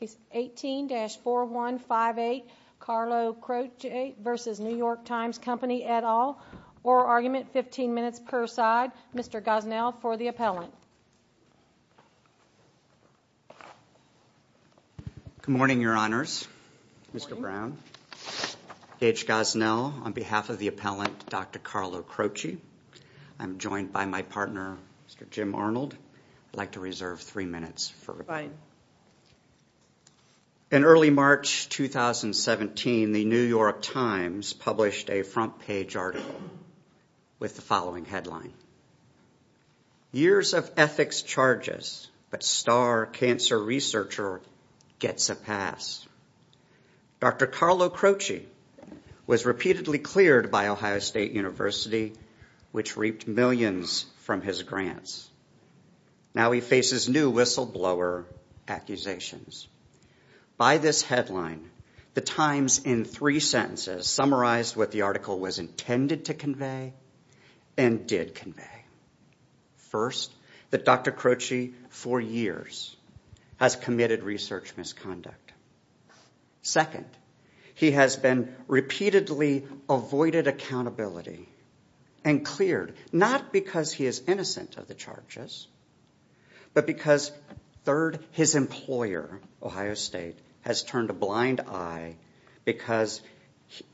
Case 18-4158 Carlo Croce v. New York Times Company, et al. Oral Argument, 15 minutes per side. Mr. Gosnell for the appellant. Good morning, Your Honors. Mr. Brown. Gage Gosnell on behalf of the appellant, Dr. Carlo Croce. I'm joined by my partner, Mr. Jim Arnold. I'd like to reserve three minutes for replying. In early March 2017, the New York Times published a front page article with the following headline. Years of ethics charges, but star cancer researcher gets a pass. Dr. Carlo Croce was repeatedly cleared by Ohio State University, which reaped millions from his grants. Now he faces new whistleblower accusations. By this headline, the Times, in three sentences, summarized what the article was intended to convey and did convey. First, that Dr. Croce, for years, has committed research misconduct. Second, he has been repeatedly avoided accountability and cleared, not because he is innocent of the charges, but because, third, his employer, Ohio State, has turned a blind eye because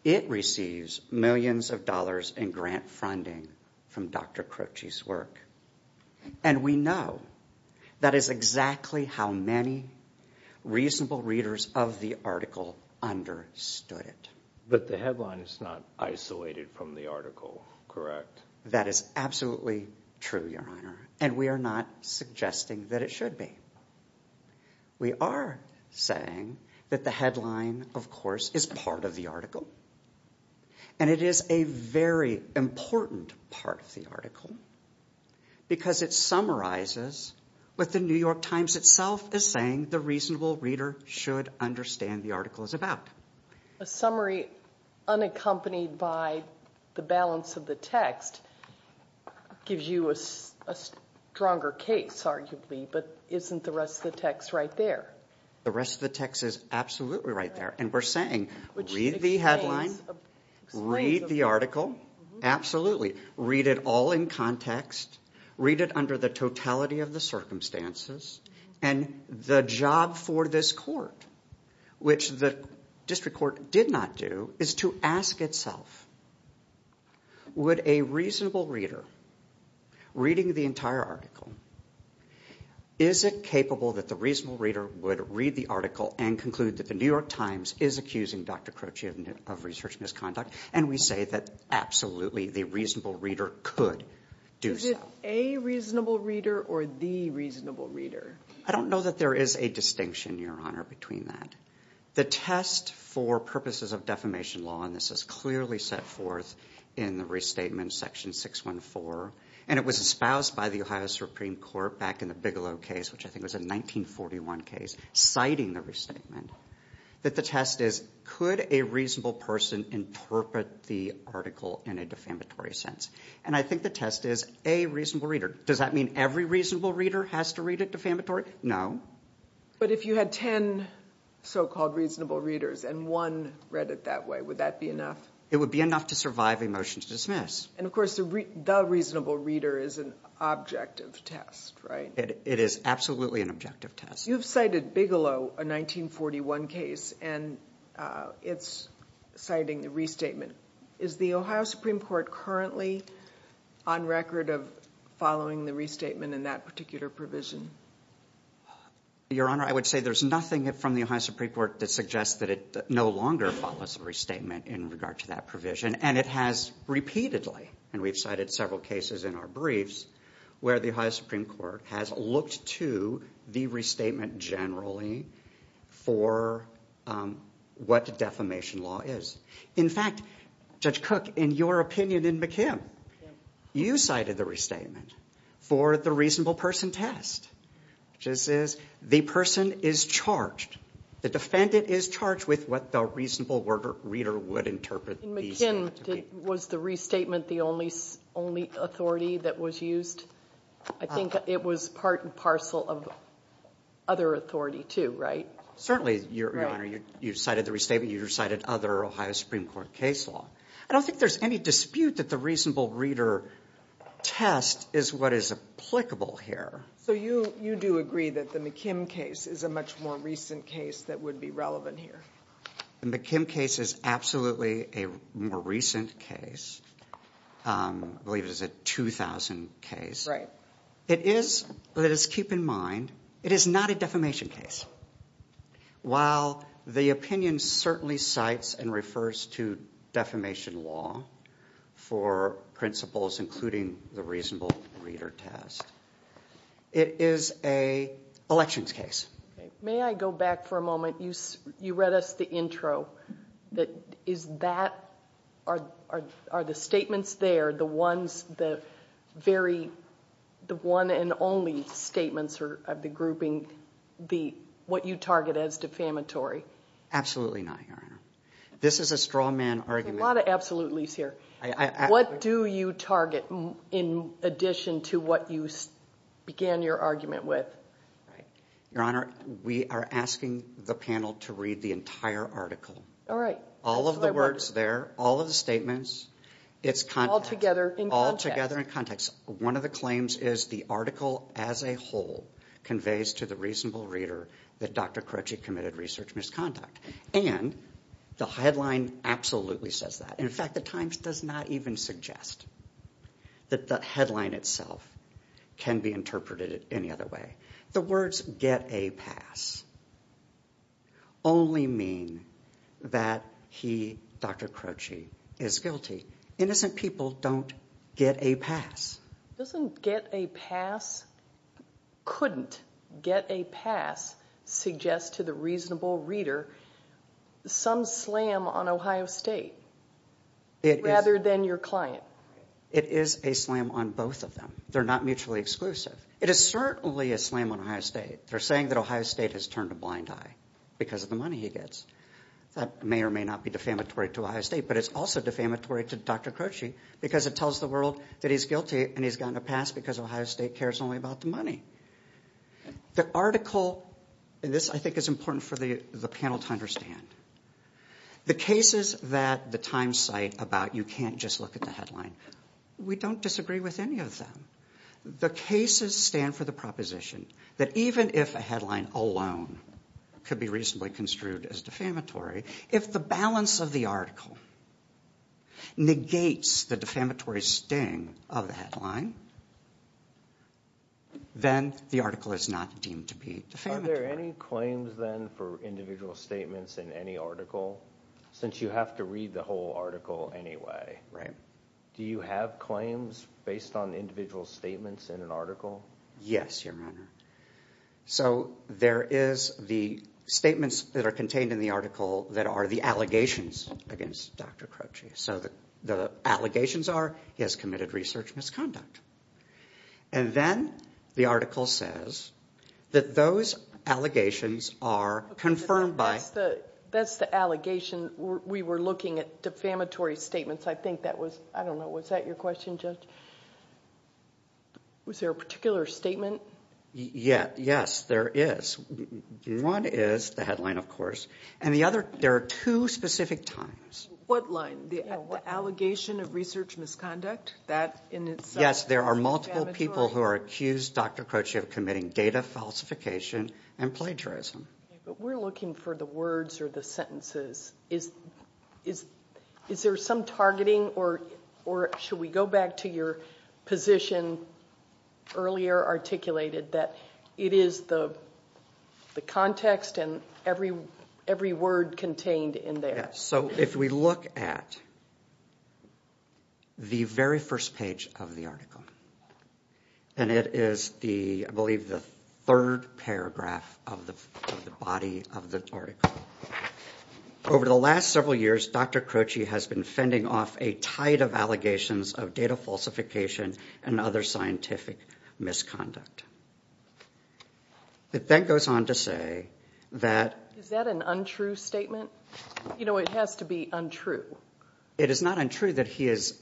it receives millions of dollars in grant funding from Dr. Croce's work. And we know that is exactly how many reasonable readers of the article understood it. But the headline is not isolated from the article, correct? That is absolutely true, Your Honor, and we are not suggesting that it should be. We are saying that the headline, of course, is part of the article, and it is a very important part of the article, because it summarizes what the New York Times itself is saying the reasonable reader should understand the article is about. A summary unaccompanied by the balance of the text gives you a stronger case, arguably, but isn't the rest of the text right there? The rest of the text is absolutely right there, and we are saying, read the headline, read the article, absolutely. Read it all in context, read it under the totality of the circumstances, and the job for this court, which the district court did not do, is to ask itself, would a reasonable reader, reading the entire article, is it capable that the reasonable reader would read the article and conclude that the New York Times is accusing Dr. Croce of research misconduct, and we say that absolutely the reasonable reader could do so. Is it a reasonable reader or the reasonable reader? I don't know that there is a distinction, Your Honor, between that. The test for purposes of defamation law, and this is clearly set forth in the restatement section 614, and it was espoused by the Ohio Supreme Court back in the Bigelow case, which I think was a 1941 case, citing the restatement, that the test is, could a reasonable person interpret the article in a defamatory sense? And I think the test is, a reasonable reader. Does that mean every reasonable reader has to read it defamatory? No. But if you had ten so-called reasonable readers and one read it that way, would that be enough? It would be enough to survive a motion to dismiss. And of course, the reasonable reader is an objective test, right? It is absolutely an objective test. You've cited Bigelow, a 1941 case, and it's citing the restatement. Is the Ohio Supreme Court currently on record of following the restatement in that particular provision? Your Honor, I would say there's nothing from the Ohio Supreme Court that suggests that it no longer follows the restatement in regard to that provision, and it has repeatedly, and we've cited several cases in our briefs, where the Ohio Supreme Court has looked to the restatement generally for what defamation law is. In fact, Judge Cook, in your opinion in McKim, you cited the restatement for the reasonable person test, which is, the person is charged, the defendant is charged with what the reasonable reader would interpret. In McKim, was the restatement the only authority that was used? I think it was part and parcel of other authority, too, right? Certainly, Your Honor, you cited the restatement, you cited other Ohio Supreme Court case law. I don't think there's any dispute that the reasonable reader test is what is applicable here. So you do agree that the McKim case is a much more recent case that would be relevant here? The McKim case is absolutely a more recent case. I believe it is a 2000 case. Right. It is, let us keep in mind, it is not a defamation case. While the opinion certainly cites and refers to defamation law for principles including the reasonable reader test, it is a elections case. May I go back for a moment? You read us the intro. Is that, are the statements there the ones, the very, the one and only statements of the grouping, what you target as defamatory? Absolutely not, Your Honor. This is a straw man argument. There's a lot of absolutes here. What do you target in addition to what you began your argument with? The Your Honor, we are asking the panel to read the entire article. All right. All of the words there, all of the statements, it's content. Altogether in context. Altogether in context. One of the claims is the article as a whole conveys to the reasonable reader that Dr. Croci committed research misconduct. And the headline absolutely says that. In fact, the Times does not even suggest that the headline itself can be interpreted any other way. The words get a pass only mean that he, Dr. Croci, is guilty. Innocent people don't get a pass. Doesn't get a pass, couldn't get a pass suggest to the reasonable reader some slam on Ohio State rather than your client? It is a slam on both of them. They're not mutually exclusive. It is certainly a slam on Ohio State. They're saying that Ohio State has turned a blind eye because of the money he gets. That may or may not be defamatory to Ohio State but it's also defamatory to Dr. Croci because it tells the world that he's guilty and he's gotten a pass because Ohio State cares only about the money. The article, and this I think is important for the panel to understand. The cases that the Times cite about you can't just look at the headline. We don't disagree with any of them. The cases stand for the proposition that even if a headline alone could be reasonably construed as defamatory, if the balance of the article negates the defamatory sting of the headline, then the article is not deemed to be defamatory. Are there any claims then for individual statements in any article? Since you have to read the whole article anyway, do you have claims based on individual statements in an article? Yes, Your Honor. So there is the statements that are contained in the article that are the allegations against Dr. Croci. So the allegations are he has committed research misconduct. And then the article says that those allegations are confirmed by... That's the allegation. We were looking at defamatory statements. I think that was, I don't know, was that your question, Judge? Was there a particular statement? Yes, there is. One is the headline, of course. And the other, there are two specific times. What line? The allegation of research misconduct? That in itself is defamatory? Yes, there are claims against Dr. Croci of committing data falsification and plagiarism. Okay, but we're looking for the words or the sentences. Is there some targeting or should we go back to your position earlier articulated that it is the context and every word contained in there? Yes. So if we look at the very first page of the article, and it is the first page of the article, and it is the, I believe, the third paragraph of the body of the article. Over the last several years, Dr. Croci has been fending off a tide of allegations of data falsification and other scientific misconduct. It then goes on to say that... Is that an untrue statement? You know, it has to be untrue. It is not untrue that he has...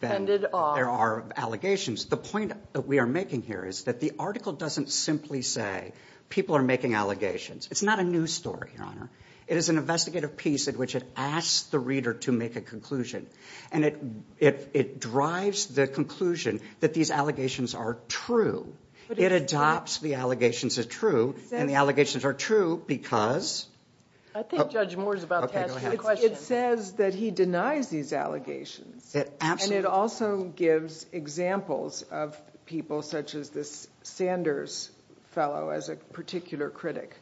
Fended off... There are allegations. The point that we are making here is that the article doesn't simply say people are making allegations. It's not a news story, Your Honor. It is an investigative piece in which it asks the reader to make a conclusion. And it drives the conclusion that these allegations are true. It adopts the allegations as true, and the allegations are true because... I think Judge Moore is about to ask a question. It says that he denies these allegations. And it also gives examples of people such as this Sanders fellow as a particular critic.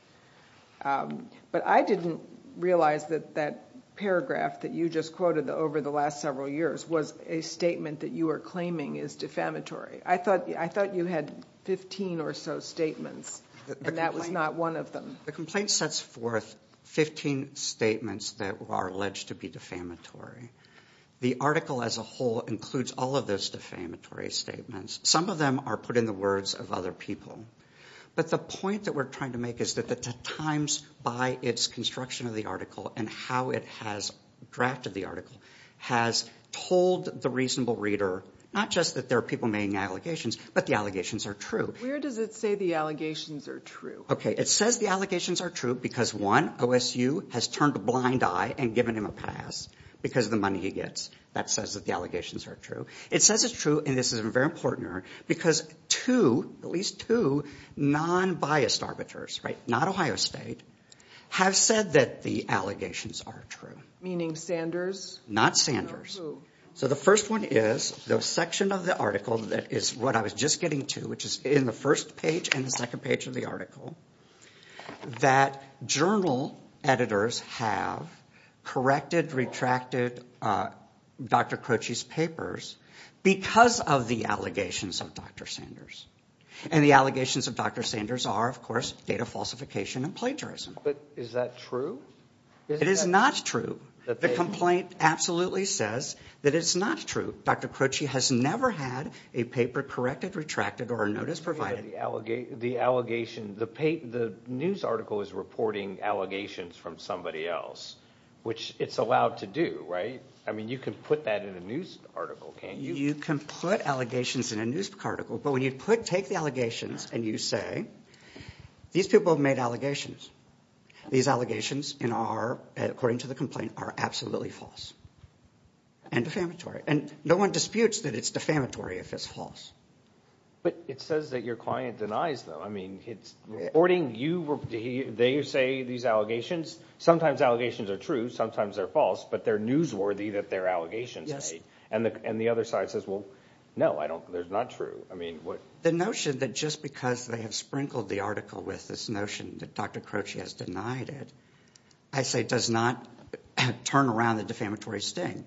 But I didn't realize that that paragraph that you just quoted over the last several years was a statement that you are claiming is defamatory. I thought you had 15 or so statements, and that was not one of them. The complaint sets forth 15 statements that are alleged to be defamatory. The article as a whole includes all of those defamatory statements. Some of them are put in the words of other people. But the point that we're trying to make is that the Times, by its construction of the article and how it has drafted the article, has told the reasonable reader not just that there are people making allegations, but the allegations are true. Where does it say the allegations are true? Okay, it says the allegations are true because, one, OSU has turned a blind eye and given him a pass because of the money he gets. That says that the allegations are true. It says it's true, and this is very important, because two, at least two, non-biased arbiters, not Ohio State, have said that the allegations are true. Meaning Sanders? Not Sanders. So the first one is the section of the article that is what I was just getting to, which is in the first page and the second page of the article, that journal editors have corrected, retracted Dr. Croce's papers because of the allegations of Dr. Sanders. And the allegations of Dr. Sanders are, of course, data falsification and plagiarism. But is that true? It is not true. The complaint absolutely says that it's not true. Dr. Croce has never had a paper corrected, retracted, or a notice provided. The news article is reporting allegations from somebody else, which it's allowed to do, right? I mean, you can put that in a news article, can't you? You can put allegations in a news article, but when you take the allegations and you say, these people made allegations. These allegations, according to the complaint, are absolutely false and defamatory. And no one disputes that it's defamatory if it's false. But it says that your client denies them. I mean, it's reporting, they say these allegations, sometimes allegations are true, sometimes they're false, but they're newsworthy that they're allegations made. And the other side says, well, no, they're not true. I mean, the notion that just because they have sprinkled the article with this notion that Dr. Croce has denied it, I say does not turn around the defamatory sting.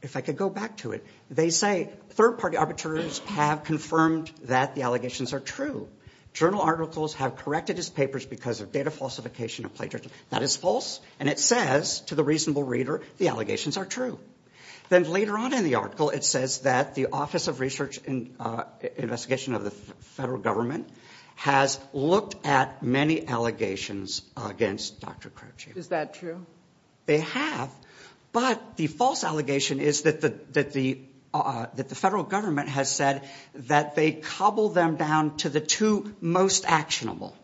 If I could go back to it, they say third-party arbiters have confirmed that the allegations are true. Journal articles have corrected his papers because of data falsification and plagiarism. That is false, and it says to the reasonable reader the allegations are true. Then later on in the article it says that the Office of Research and Investigation of the federal government has looked at many allegations against Dr. Croce. Is that true? They have. But the false allegation is that the federal government has said that they cobbled them down to the two most actionable,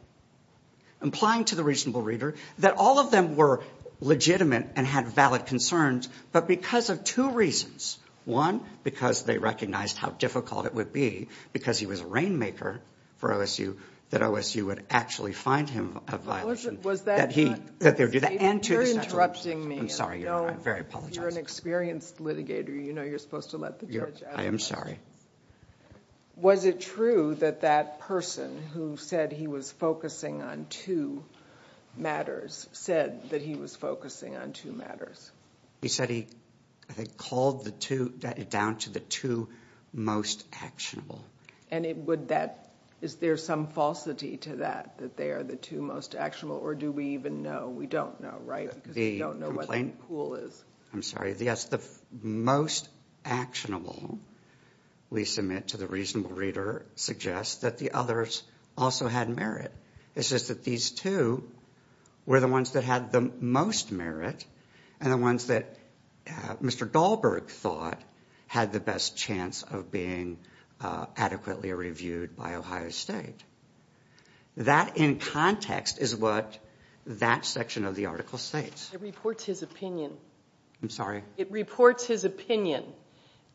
implying to the reasonable reader that all of them were legitimate and had valid concerns, but because of two reasons. One, because they recognized how difficult it would be, because he was a rainmaker for OSU, that OSU would actually find him a violation. Was that true? That they would do that. You're interrupting me. I'm sorry. I'm very apologetic. You're an experienced litigator. You know you're supposed to let the judge out. I am sorry. Was it true that that person who said he was focusing on two matters said that he was focusing on two matters? He said he, I think, cobbled it down to the two most actionable. And would that, is there some falsity to that, that they are the two most actionable? Or do we even know? We don't know, right? Because we don't know what the pool is. I'm sorry. Yes, the most actionable, we submit to the reasonable reader, suggests that the others also had merit. It's just that these two were the ones that had the most merit and the ones that Mr. Dahlberg thought had the best chance of being adequately reviewed by Ohio State. That, in context, is what that section of the article states. It reports his opinion. I'm sorry? It reports his opinion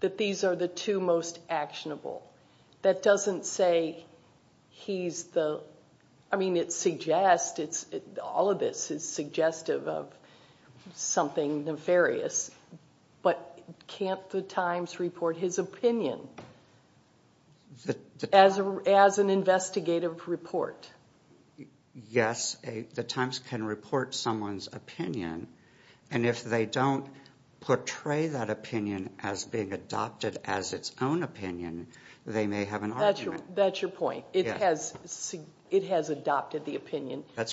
that these are the two most actionable. That doesn't say he's the, I mean, it suggests, all of this is suggestive of something nefarious, but can't the Times report his opinion as an investigative report? Yes, the Times can report someone's opinion, and if they don't portray that opinion as being adopted as its own opinion, they may have an argument. That's your point. It has adopted the opinion by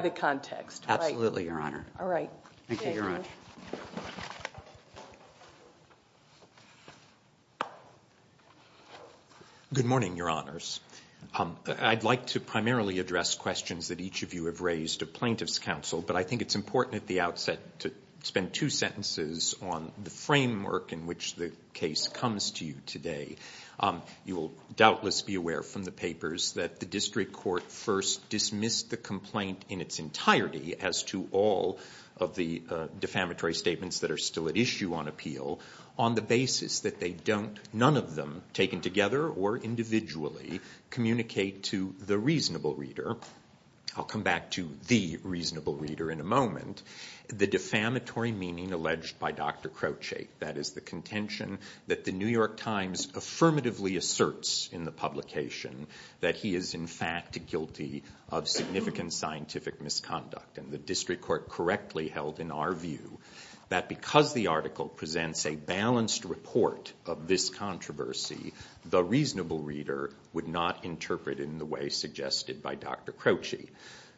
the context. That's correct. Absolutely, Your Honor. Thank you, Your Honor. Good morning, Your Honors. I'd like to primarily address questions that each of you have raised of plaintiff's counsel, but I think it's important at the outset to spend two sentences on the defamatory statements. You must be aware from the papers that the district court first dismissed the complaint in its entirety as to all of the defamatory statements that are still at issue on appeal on the basis that they don't, none of them taken together or individually, communicate to the reasonable reader. I'll come back to the reasonable reader in a moment. The defamatory meaning alleged by Dr. Crouchate, that is the contention that the New York Times affirmatively asserts in the publication that he is in fact guilty of significant scientific misconduct, and the district court correctly held in our view that because the article presents a balanced report of this controversy, the reasonable reader would not interpret it in the way suggested by Dr. Crouchate.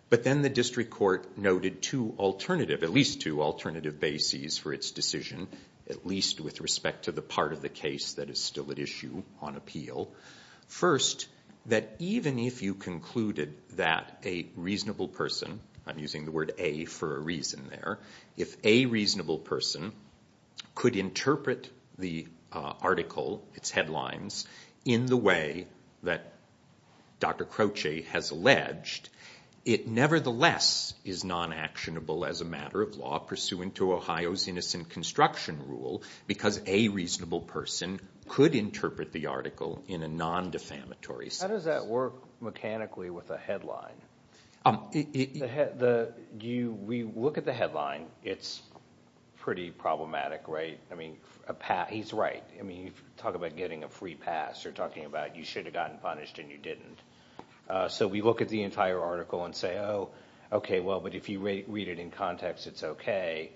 But then the district court noted two alternative, at least two alternative bases for its decision, at least with respect to the part of the case that is still at issue on appeal. First, that even if you concluded that a reasonable person, I'm using the word a for a reason there, if a reasonable person could interpret the article, its headlines, in the way that Dr. Crouchate has alleged, it nevertheless is non-actionable as a matter of law pursuant to Ohio's innocent construction rule because a reasonable person could interpret the article in a non-defamatory sense. How does that work mechanically with a headline? We look at the headline, it's pretty problematic, right? He's right. You talk about getting a free pass, you're talking about you should have gotten punished and you didn't. So we look at the entire article and say, oh, okay, but if you read it in context, it's okay.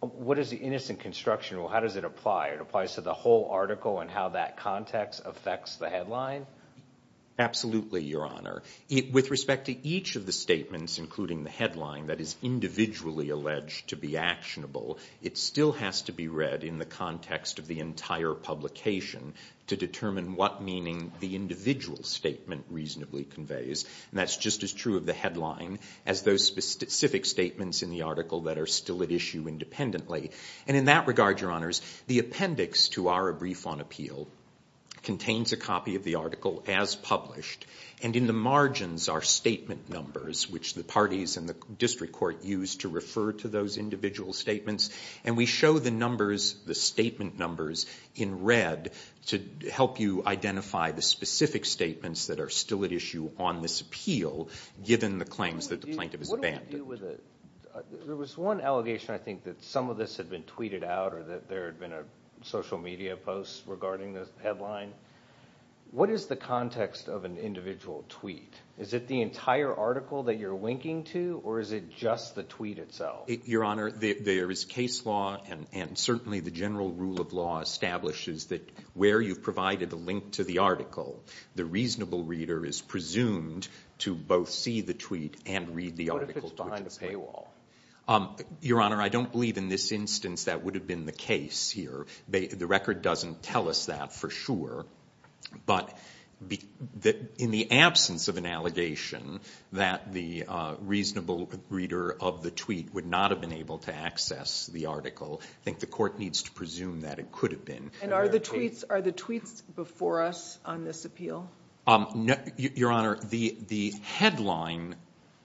What is the innocent construction rule? How does it apply? It applies to the whole article and how that context affects the headline? Absolutely, Your Honor. With respect to each of the statements, including the headline that is individually alleged to be actionable, it still has to be read in the context of the entire publication to determine what meaning the individual statement reasonably conveys. That's just as true of the headline as those specific statements in the article that are still at issue independently. In that regard, Your Honors, the appendix to our brief on appeal contains a copy of the article as published and in the margins are statement numbers, which the parties and the district court use to refer to those individual statements. We show the numbers, the statement numbers, in red to help you identify the specific statements that are still at issue on this appeal given the claims that the plaintiff has abandoned. There was one allegation, I think, that some of this had been tweeted out or that there had been a social media post regarding this headline. What is the context of an individual tweet? Is it the entire article that you're linking to or is it just the tweet itself? Your Honor, there is case law and certainly the general rule of law establishes that where you've provided a link to the article, the reasonable reader is presumed to both see the tweet and read the article. What if it's behind a paywall? Your Honor, I don't believe in this instance that would have been the case here. The record doesn't tell us that for sure, but in the absence of an allegation that the reasonable reader of the tweet would not have been able to access the article, I think the court needs to presume that it tweets before us on this appeal? Your Honor, the headline,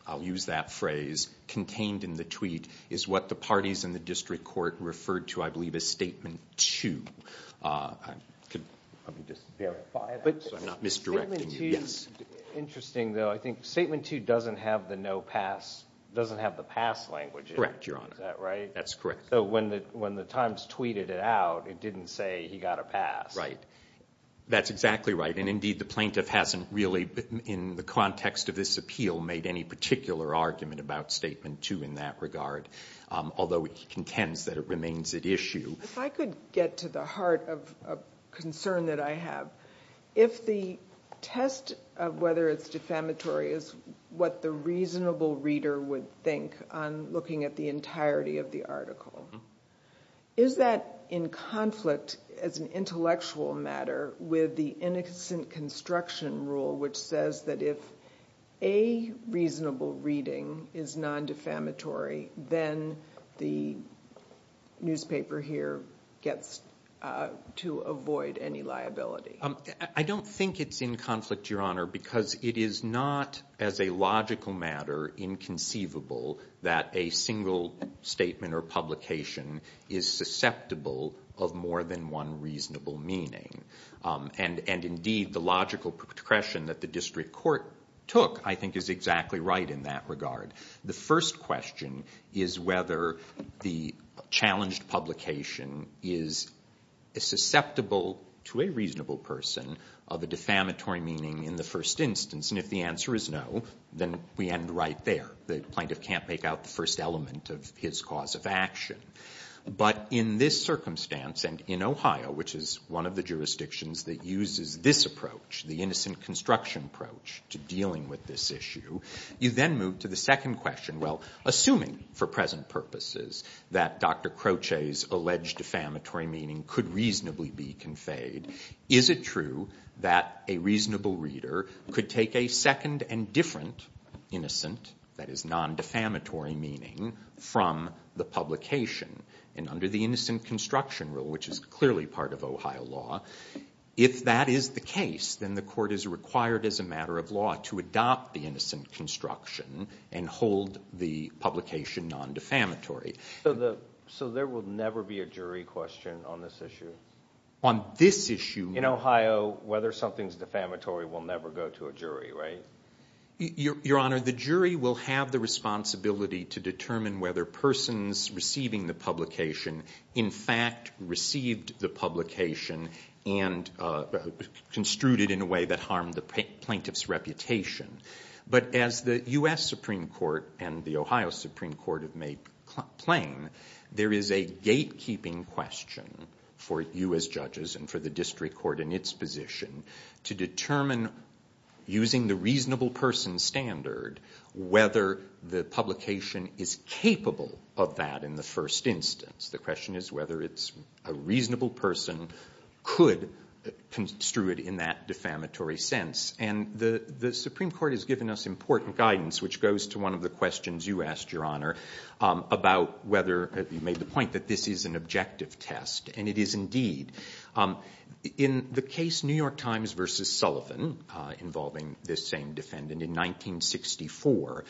I'll use that phrase, contained in the tweet is what the parties in the district court referred to, I believe, as Statement 2. Let me just verify that so I'm not misdirecting you. Statement 2, interesting though, I think Statement 2 doesn't have the no pass, doesn't have the pass language in it. Correct, Your Honor. Is that right? That's correct. So when the Times tweeted it out, it didn't say he got a pass. Right. That's exactly right, and indeed the plaintiff hasn't really, in the context of this appeal, made any particular argument about Statement 2 in that regard, although he contends that it remains at issue. If I could get to the heart of a concern that I have, if the test of whether it's defamatory is what the reasonable reader would think on looking at the entirety of the article, is that in conflict as an intellectual matter with the Innocent Construction Rule which says that if a reasonable reading is non-defamatory then the newspaper here gets to avoid any liability? I don't think it's in conflict, Your Honor, because it is not as a logical matter inconceivable that a single statement or publication is susceptible of more than one reasonable meaning. And indeed the logical progression that the district court took I think is exactly right in that regard. The first question is whether the challenged publication is susceptible to a reasonable person of a defamatory meaning in the first instance, and if the answer is no, then we end right there. The plaintiff can't make out the first element of his cause of action. But in this circumstance and in Ohio, which is one of the jurisdictions that uses this approach, the innocent construction approach to dealing with this issue, you then move to the second question. Well, assuming for present purposes that Dr. Croce's alleged defamatory meaning could reasonably be conveyed, is it true that a reasonable reader could take a second and different innocent, that is non-defamatory meaning, from the publication? And under the Innocent Construction Rule, which is clearly part of Ohio law, if that is the case, then the court is required as a matter of law to adopt the innocent construction and hold the publication non-defamatory. So there will never be a jury question on this issue? On this issue? In Ohio, whether something's defamatory will never go to a jury, right? Your Honor, the jury will have the responsibility to determine whether persons receiving the publication in fact received the publication and construed it in a way that harmed the plaintiff's reputation. But as the U.S. Supreme Court and the Ohio Supreme Court have made plain, there is a gatekeeping question for you as judges and for the district court in its position to determine, using the reasonable person standard, whether the publication is capable of that in the first instance. The question is whether it's a reasonable person could construe it in that defamatory sense. And the Supreme Court has given us important guidance, which goes to one of the questions you asked, Your Honor, about whether you made the point that this is an objective test. And it is indeed. In the case New York Times v. Sullivan, involving this same defendant in 1964,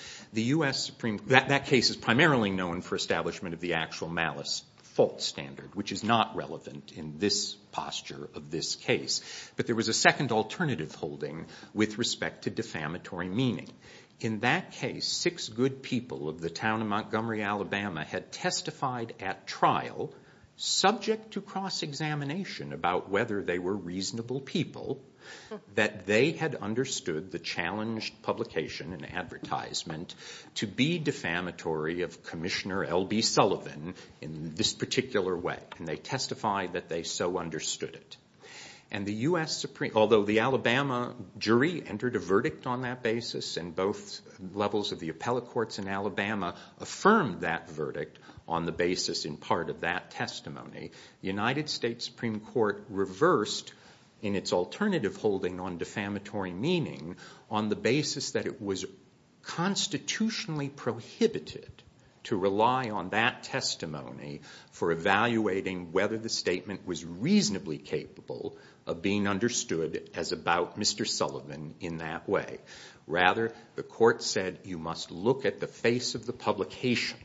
that case is primarily known for establishment of the actual malice fault standard, which is not relevant in this posture of this case. But there was a second alternative holding with respect to defamatory meaning. In that case, six good people of the town of Montgomery, Alabama, had testified at trial, subject to cross-examination about whether they were reasonable people, that they had understood the challenged publication and advertisement to be defamatory of Commissioner L.B. Sullivan in this particular way. And they testified that they so understood it. Although the Alabama jury entered a verdict on that basis, and both levels of the appellate courts in Alabama affirmed that verdict on the basis in part of that testimony, the United States Supreme Court reversed in its alternative holding on defamatory meaning on the basis that it was constitutionally prohibited to whether the statement was reasonably capable of being understood as about Mr. Sullivan in that way. Rather, the court said you must look at the face of the publication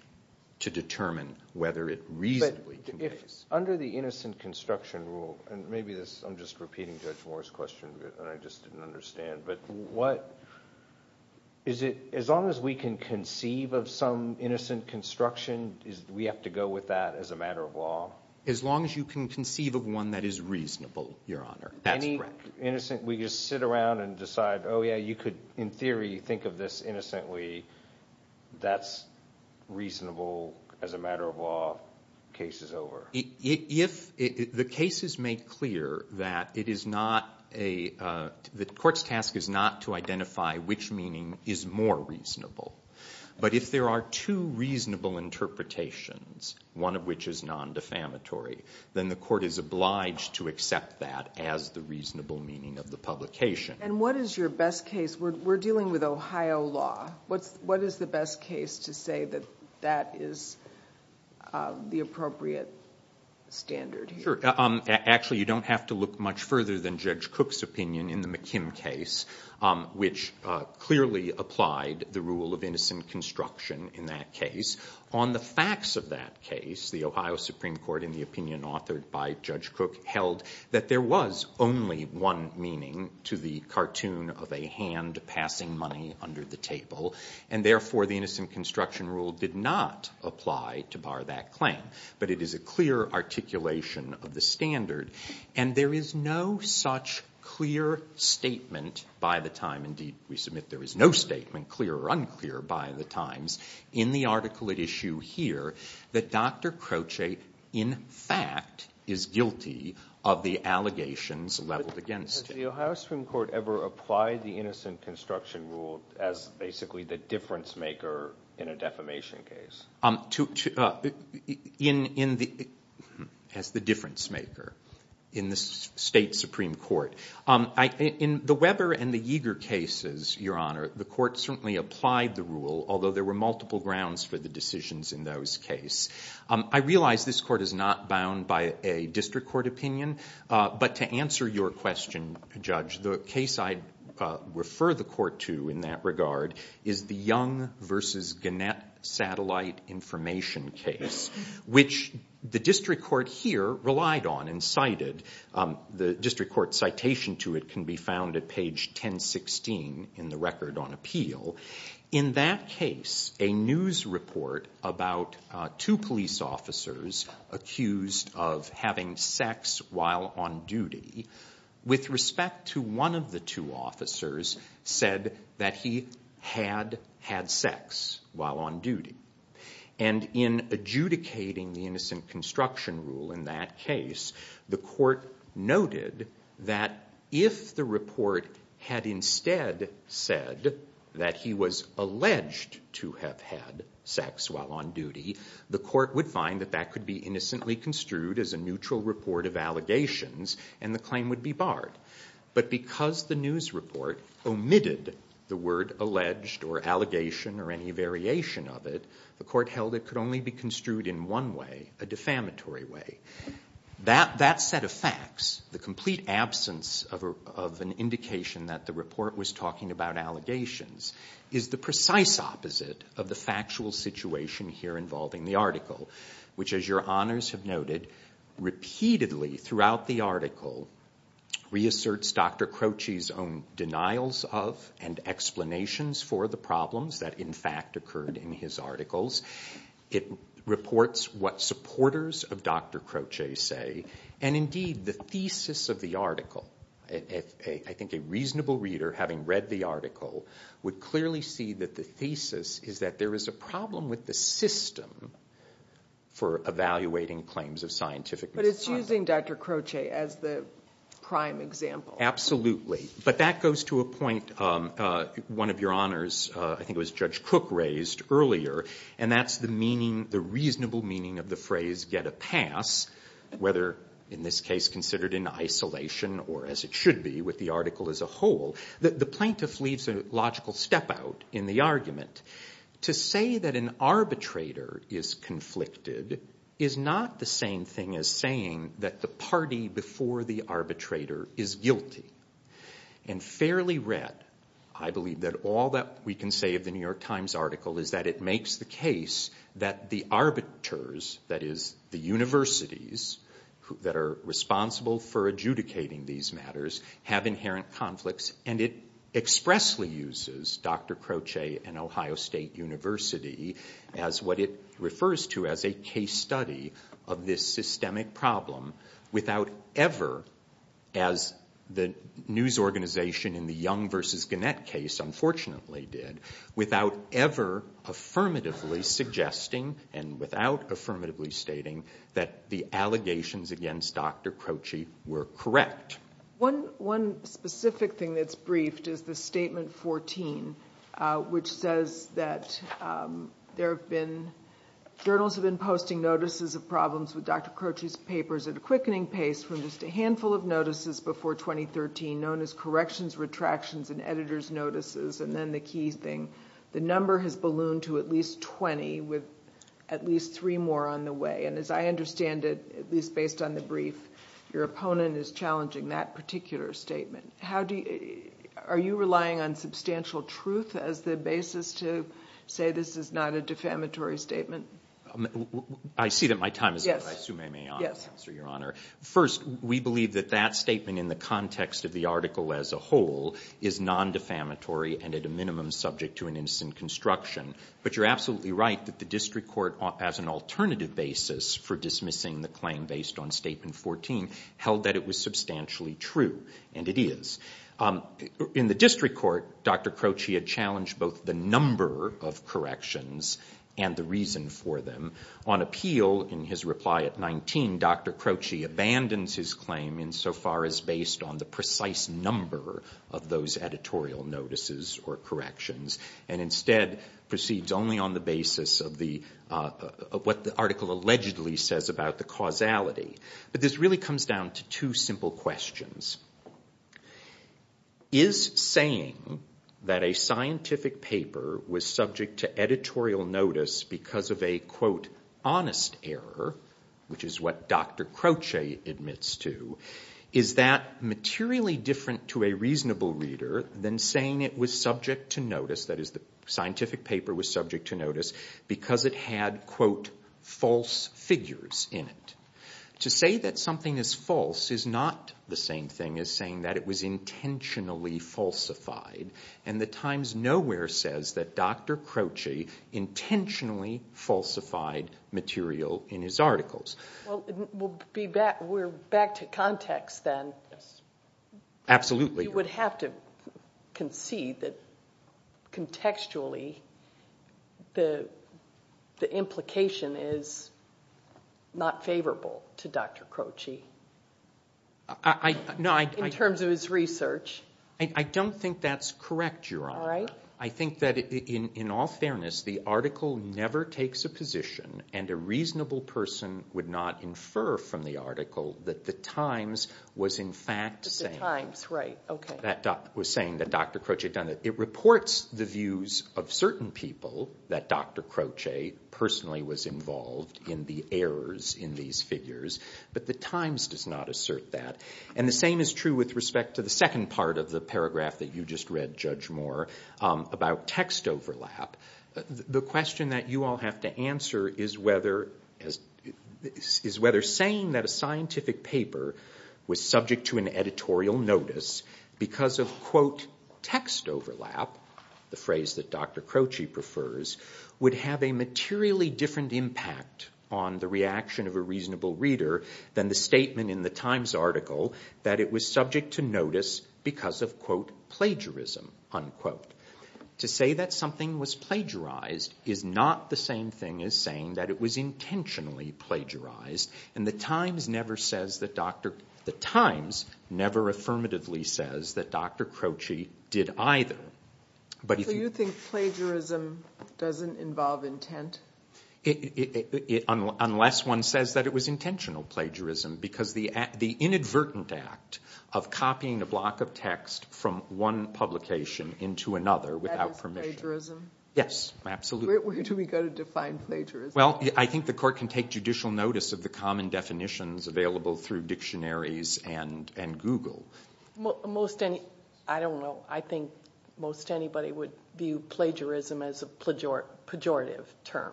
to determine whether it reasonably conveys it. But if under the innocent construction rule, and maybe this, I'm just repeating Judge Moore's question, and I just didn't understand, but what, is it, as long as we can conceive of some innocent construction, do we have to go with that as a matter of law? As long as you can conceive of one that is reasonable, Your Honor. That's correct. Any innocent, we just sit around and decide, oh yeah, you could, in theory, think of this innocently, that's reasonable as a matter of law, case is over. If, the case is made clear that it is not a, the court's task is not to identify which meaning is more reasonable, but if there are two reasonable interpretations, one of which is non-defamatory, then the court is obliged to accept that as the reasonable meaning of the publication. And what is your best case, we're dealing with Ohio law, what is the best case to say that that is the appropriate standard here? Actually, you don't have to look much further than Judge Cook's opinion in the McKim case, which clearly applied the rule of innocent construction in that case. On the facts of that case, the Ohio Supreme Court, in the opinion authored by Judge Cook, held that there was only one meaning to the cartoon of a hand passing money under the table. And therefore, the innocent construction rule did not apply to bar that claim. But it is a clear articulation of the standard. And there is no such clear statement by the time, indeed, we submit there is no statement clear or unclear by the times, in the article at issue here, that Dr. Croce, in fact, is guilty of the allegations leveled against him. Has the Ohio Supreme Court ever applied the innocent construction rule as basically the difference maker in a defamation case? As the difference maker in the state Supreme Court. In the Weber and the Yeager cases, Your Honor, the court certainly applied the rule, although there were multiple grounds for the decisions in those cases. I realize this court is not bound by a district court opinion. But to answer your question, Judge, the case I refer the court to in that regard is the net satellite information case, which the district court here relied on and cited. The district court citation to it can be found at page 1016 in the record on appeal. In that case, a news report about two police officers accused of having sex while on duty, with respect to one of the two officers, said that he had had sex while on duty. And in adjudicating the innocent construction rule in that case, the court noted that if the report had instead said that he was alleged to have had sex while on duty, the court would find that that could be innocently construed as a neutral report of allegations and the claim would be barred. But because the news report omitted the word alleged or allegation or any variation of it, the court held it could only be construed in one way, a defamatory way. That set of facts, the complete absence of an indication that the report was talking about allegations, is the precise opposite of the factual situation here involving the article. Which as your honors have noted, repeatedly throughout the article, reasserts Dr. Croce's own denials of and explanations for the problems that in fact occurred in his articles. It reports what supporters of Dr. Croce say and indeed the thesis of the article. I think a reasonable reader, having read the article, would clearly see that the thesis is that there is a problem with the system for evaluating claims of scientific misconduct. But it's using Dr. Croce as the prime example. Absolutely. But that goes to a point, one of your honors, I think it was Judge Cook raised earlier, and that's the meaning, the reasonable meaning of the phrase get a pass, whether in this case considered in isolation or as it should be with the article as a whole, the plaintiff leaves a logical step out in the argument. To say that an arbitrator is conflicted is not the same thing as saying that the party before the arbitrator is guilty. And fairly read, I believe that all that we can say of the New York Times article is that it makes the case that the arbiters, that is the universities that are responsible for adjudicating these matters, have inherent conflicts and it expressly uses Dr. Croce and Ohio State University as what it refers to as a case study of this systemic problem without ever, as the news organization in the Young v. Gannett case unfortunately did, without ever affirmatively suggesting and without affirmatively stating that the allegations against Dr. Croce were correct. One specific thing that's briefed is the Statement 14, which says that there have been, journals have been posting notices of problems with Dr. Croce's papers at a quickening pace from just a handful of notices before 2013 known as corrections, retractions, and editor's The number has ballooned to at least 20 with at least three more on the way. And as I understand it, at least based on the brief, your opponent is challenging that particular statement. How do you, are you relying on substantial truth as the basis to say this is not a defamatory statement? I see that my time is up, I assume I may answer, Your Honor. First, we believe that that statement in the context of the article as a whole is non-defamatory and at a minimum subject to an instant construction. But you're absolutely right that the district court as an alternative basis for dismissing the claim based on Statement 14 held that it was substantially true, and it is. In the district court, Dr. Croce had challenged both the number of corrections and the reason for them. On appeal, in his reply at 19, Dr. Croce abandons his claim insofar as based on the precise number of those editorial notices or corrections, and instead proceeds only on the basis of what the article allegedly says about the causality. But this really comes down to two simple questions. Is saying that a scientific paper was subject to editorial notice because of a, quote, honest error, which is what Dr. Croce admits to, is that materially different to a reasonable reader than saying it was subject to notice, that is, the scientific paper was subject to notice because it had, quote, false figures in it? To say that something is false is not the same thing as saying that it was intentionally falsified, and the Times Nowhere says that Dr. Croce intentionally falsified material in his articles. Well, we'll be back to context then. Absolutely. You would have to concede that contextually the implication is not favorable to Dr. Croce. In terms of his research. I don't think that's correct, Your Honor. I think that in all fairness, the article never takes a position, and a reasonable person would not infer from the article that the Times was, in fact, saying that Dr. Croce had done it. It reports the views of certain people that Dr. Croce personally was involved in the errors in these figures, but the Times does not assert that, and the same is true with respect to the second part of the paragraph that you just read, Judge Moore, about text overlap. The question that you all have to answer is whether saying that a scientific paper was subject to an editorial notice because of, quote, text overlap, the phrase that Dr. Croce prefers, would have a materially different impact on the reaction of a reasonable reader than the statement in the Times article that it was subject to notice because of, quote, plagiarism, unquote. To say that something was plagiarized is not the same thing as saying that it was intentionally plagiarized, and the Times never says that Dr. Croce did either. So you think plagiarism doesn't involve intent? Unless one says that it was intentional plagiarism, because the inadvertent act of copying a block of text from one publication into another without permission. That is plagiarism? Yes, absolutely. Where do we go to define plagiarism? Well, I think the court can take judicial notice of the common definitions available through dictionaries and Google. I don't know. I think most anybody would view plagiarism as a pejorative term.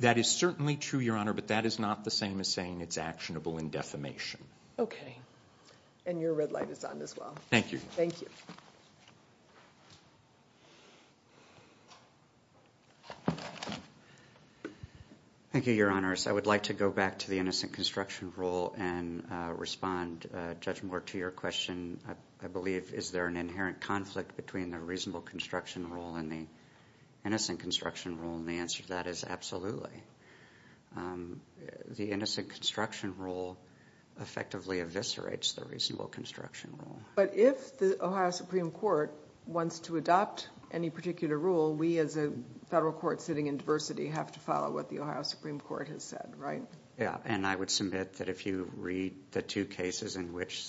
That is certainly true, Your Honor, but that is not the same as saying it's actionable in defamation. Okay. And your red light is on as well. Thank you. Thank you. Thank you, Your Honors. I would like to go back to the innocent construction rule and respond, Judge Moore, to your question, I believe, is there an inherent conflict between the reasonable construction rule and the innocent construction rule? And the answer to that is absolutely. The innocent construction rule effectively eviscerates the reasonable construction rule. But if the Ohio Supreme Court wants to adopt any particular rule, we as a federal court sitting in diversity have to follow what the Ohio Supreme Court has said, right? Yeah. And I would submit that if you read the two cases in which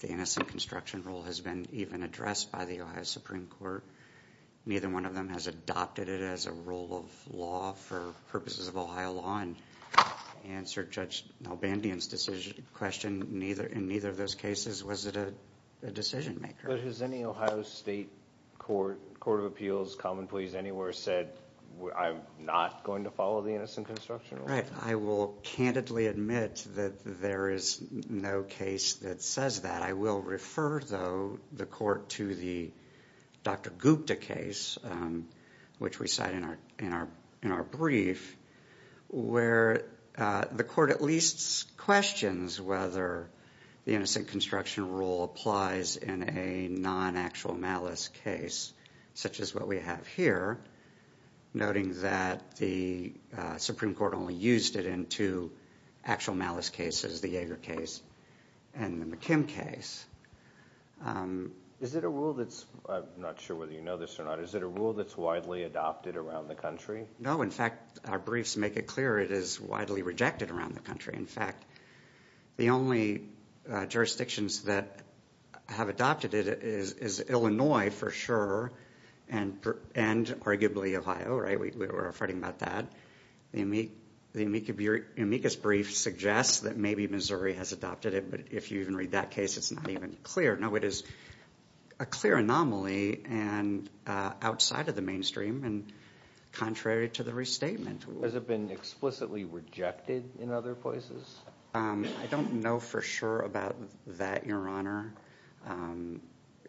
the innocent construction rule has been even addressed by the Ohio Supreme Court, neither one of them has adopted it as a rule of law for purposes of Ohio law. And to answer Judge Albandian's question, in neither of those cases was it a decision maker. But has any Ohio State Court, Court of Appeals, Common Pleas, anywhere said, I'm not going to follow the innocent construction rule? Right. I will candidly admit that there is no case that says that. I will refer, though, the court to the Dr. Gupta case, which we cite in our brief, where the court at least questions whether the innocent construction rule applies in a non-actual malice case, such as what we have here, noting that the Supreme Court only used it in two actual malice cases, the Yeager case and the McKim case. Is it a rule that's, I'm not sure whether you know this or not, is it a rule that's widely adopted around the country? No. In fact, our briefs make it clear it is widely rejected around the country. In fact, the only jurisdictions that have adopted it is Illinois, for sure, and arguably Ohio, right? We're fretting about that. The amicus brief suggests that maybe Missouri has adopted it, but if you even read that case, it's not even clear. No, it is a clear anomaly and outside of the mainstream and contrary to the restatement. Has it been explicitly rejected in other places? I don't know for sure about that, Your Honor.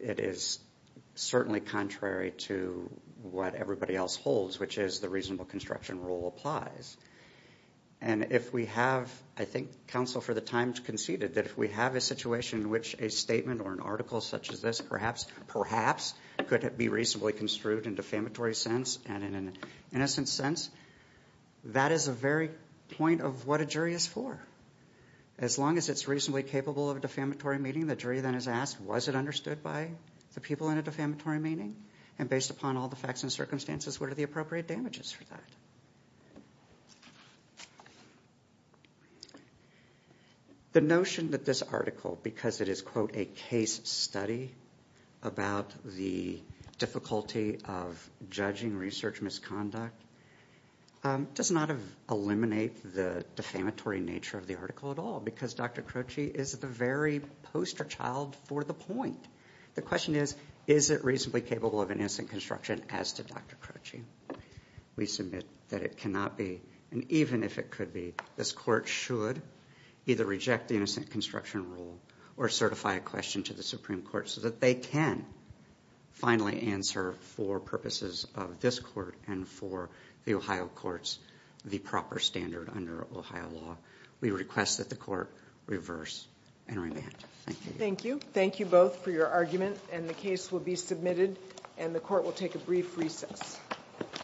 It is certainly contrary to what everybody else holds, which is the reasonable construction rule applies. And if we have, I think counsel for the time conceded, that if we have a situation in which a statement or an article such as this perhaps, perhaps, could be reasonably construed in defamatory sense and in an innocent sense, that is the very point of what a jury is for. As long as it's reasonably capable of a defamatory meaning, the jury then is asked, was it understood by the people in a defamatory meaning? And based upon all the facts and circumstances, what are the appropriate damages for that? The notion that this article, because it is, quote, a case study about the difficulty of judging research misconduct, does not eliminate the defamatory nature of the article at all, because Dr. Croci is the very poster child for the point. The question is, is it reasonably capable of an innocent construction as to Dr. Croci? We submit that it cannot be, and even if it could be, this court should either reject the innocent construction rule or certify a question to the Supreme Court so that they can finally answer for purposes of this court and for the Ohio courts the proper standard under Ohio law. We request that the court reverse and remand. Thank you. Thank you both for your argument, and the case will be submitted and the court will take a brief recess.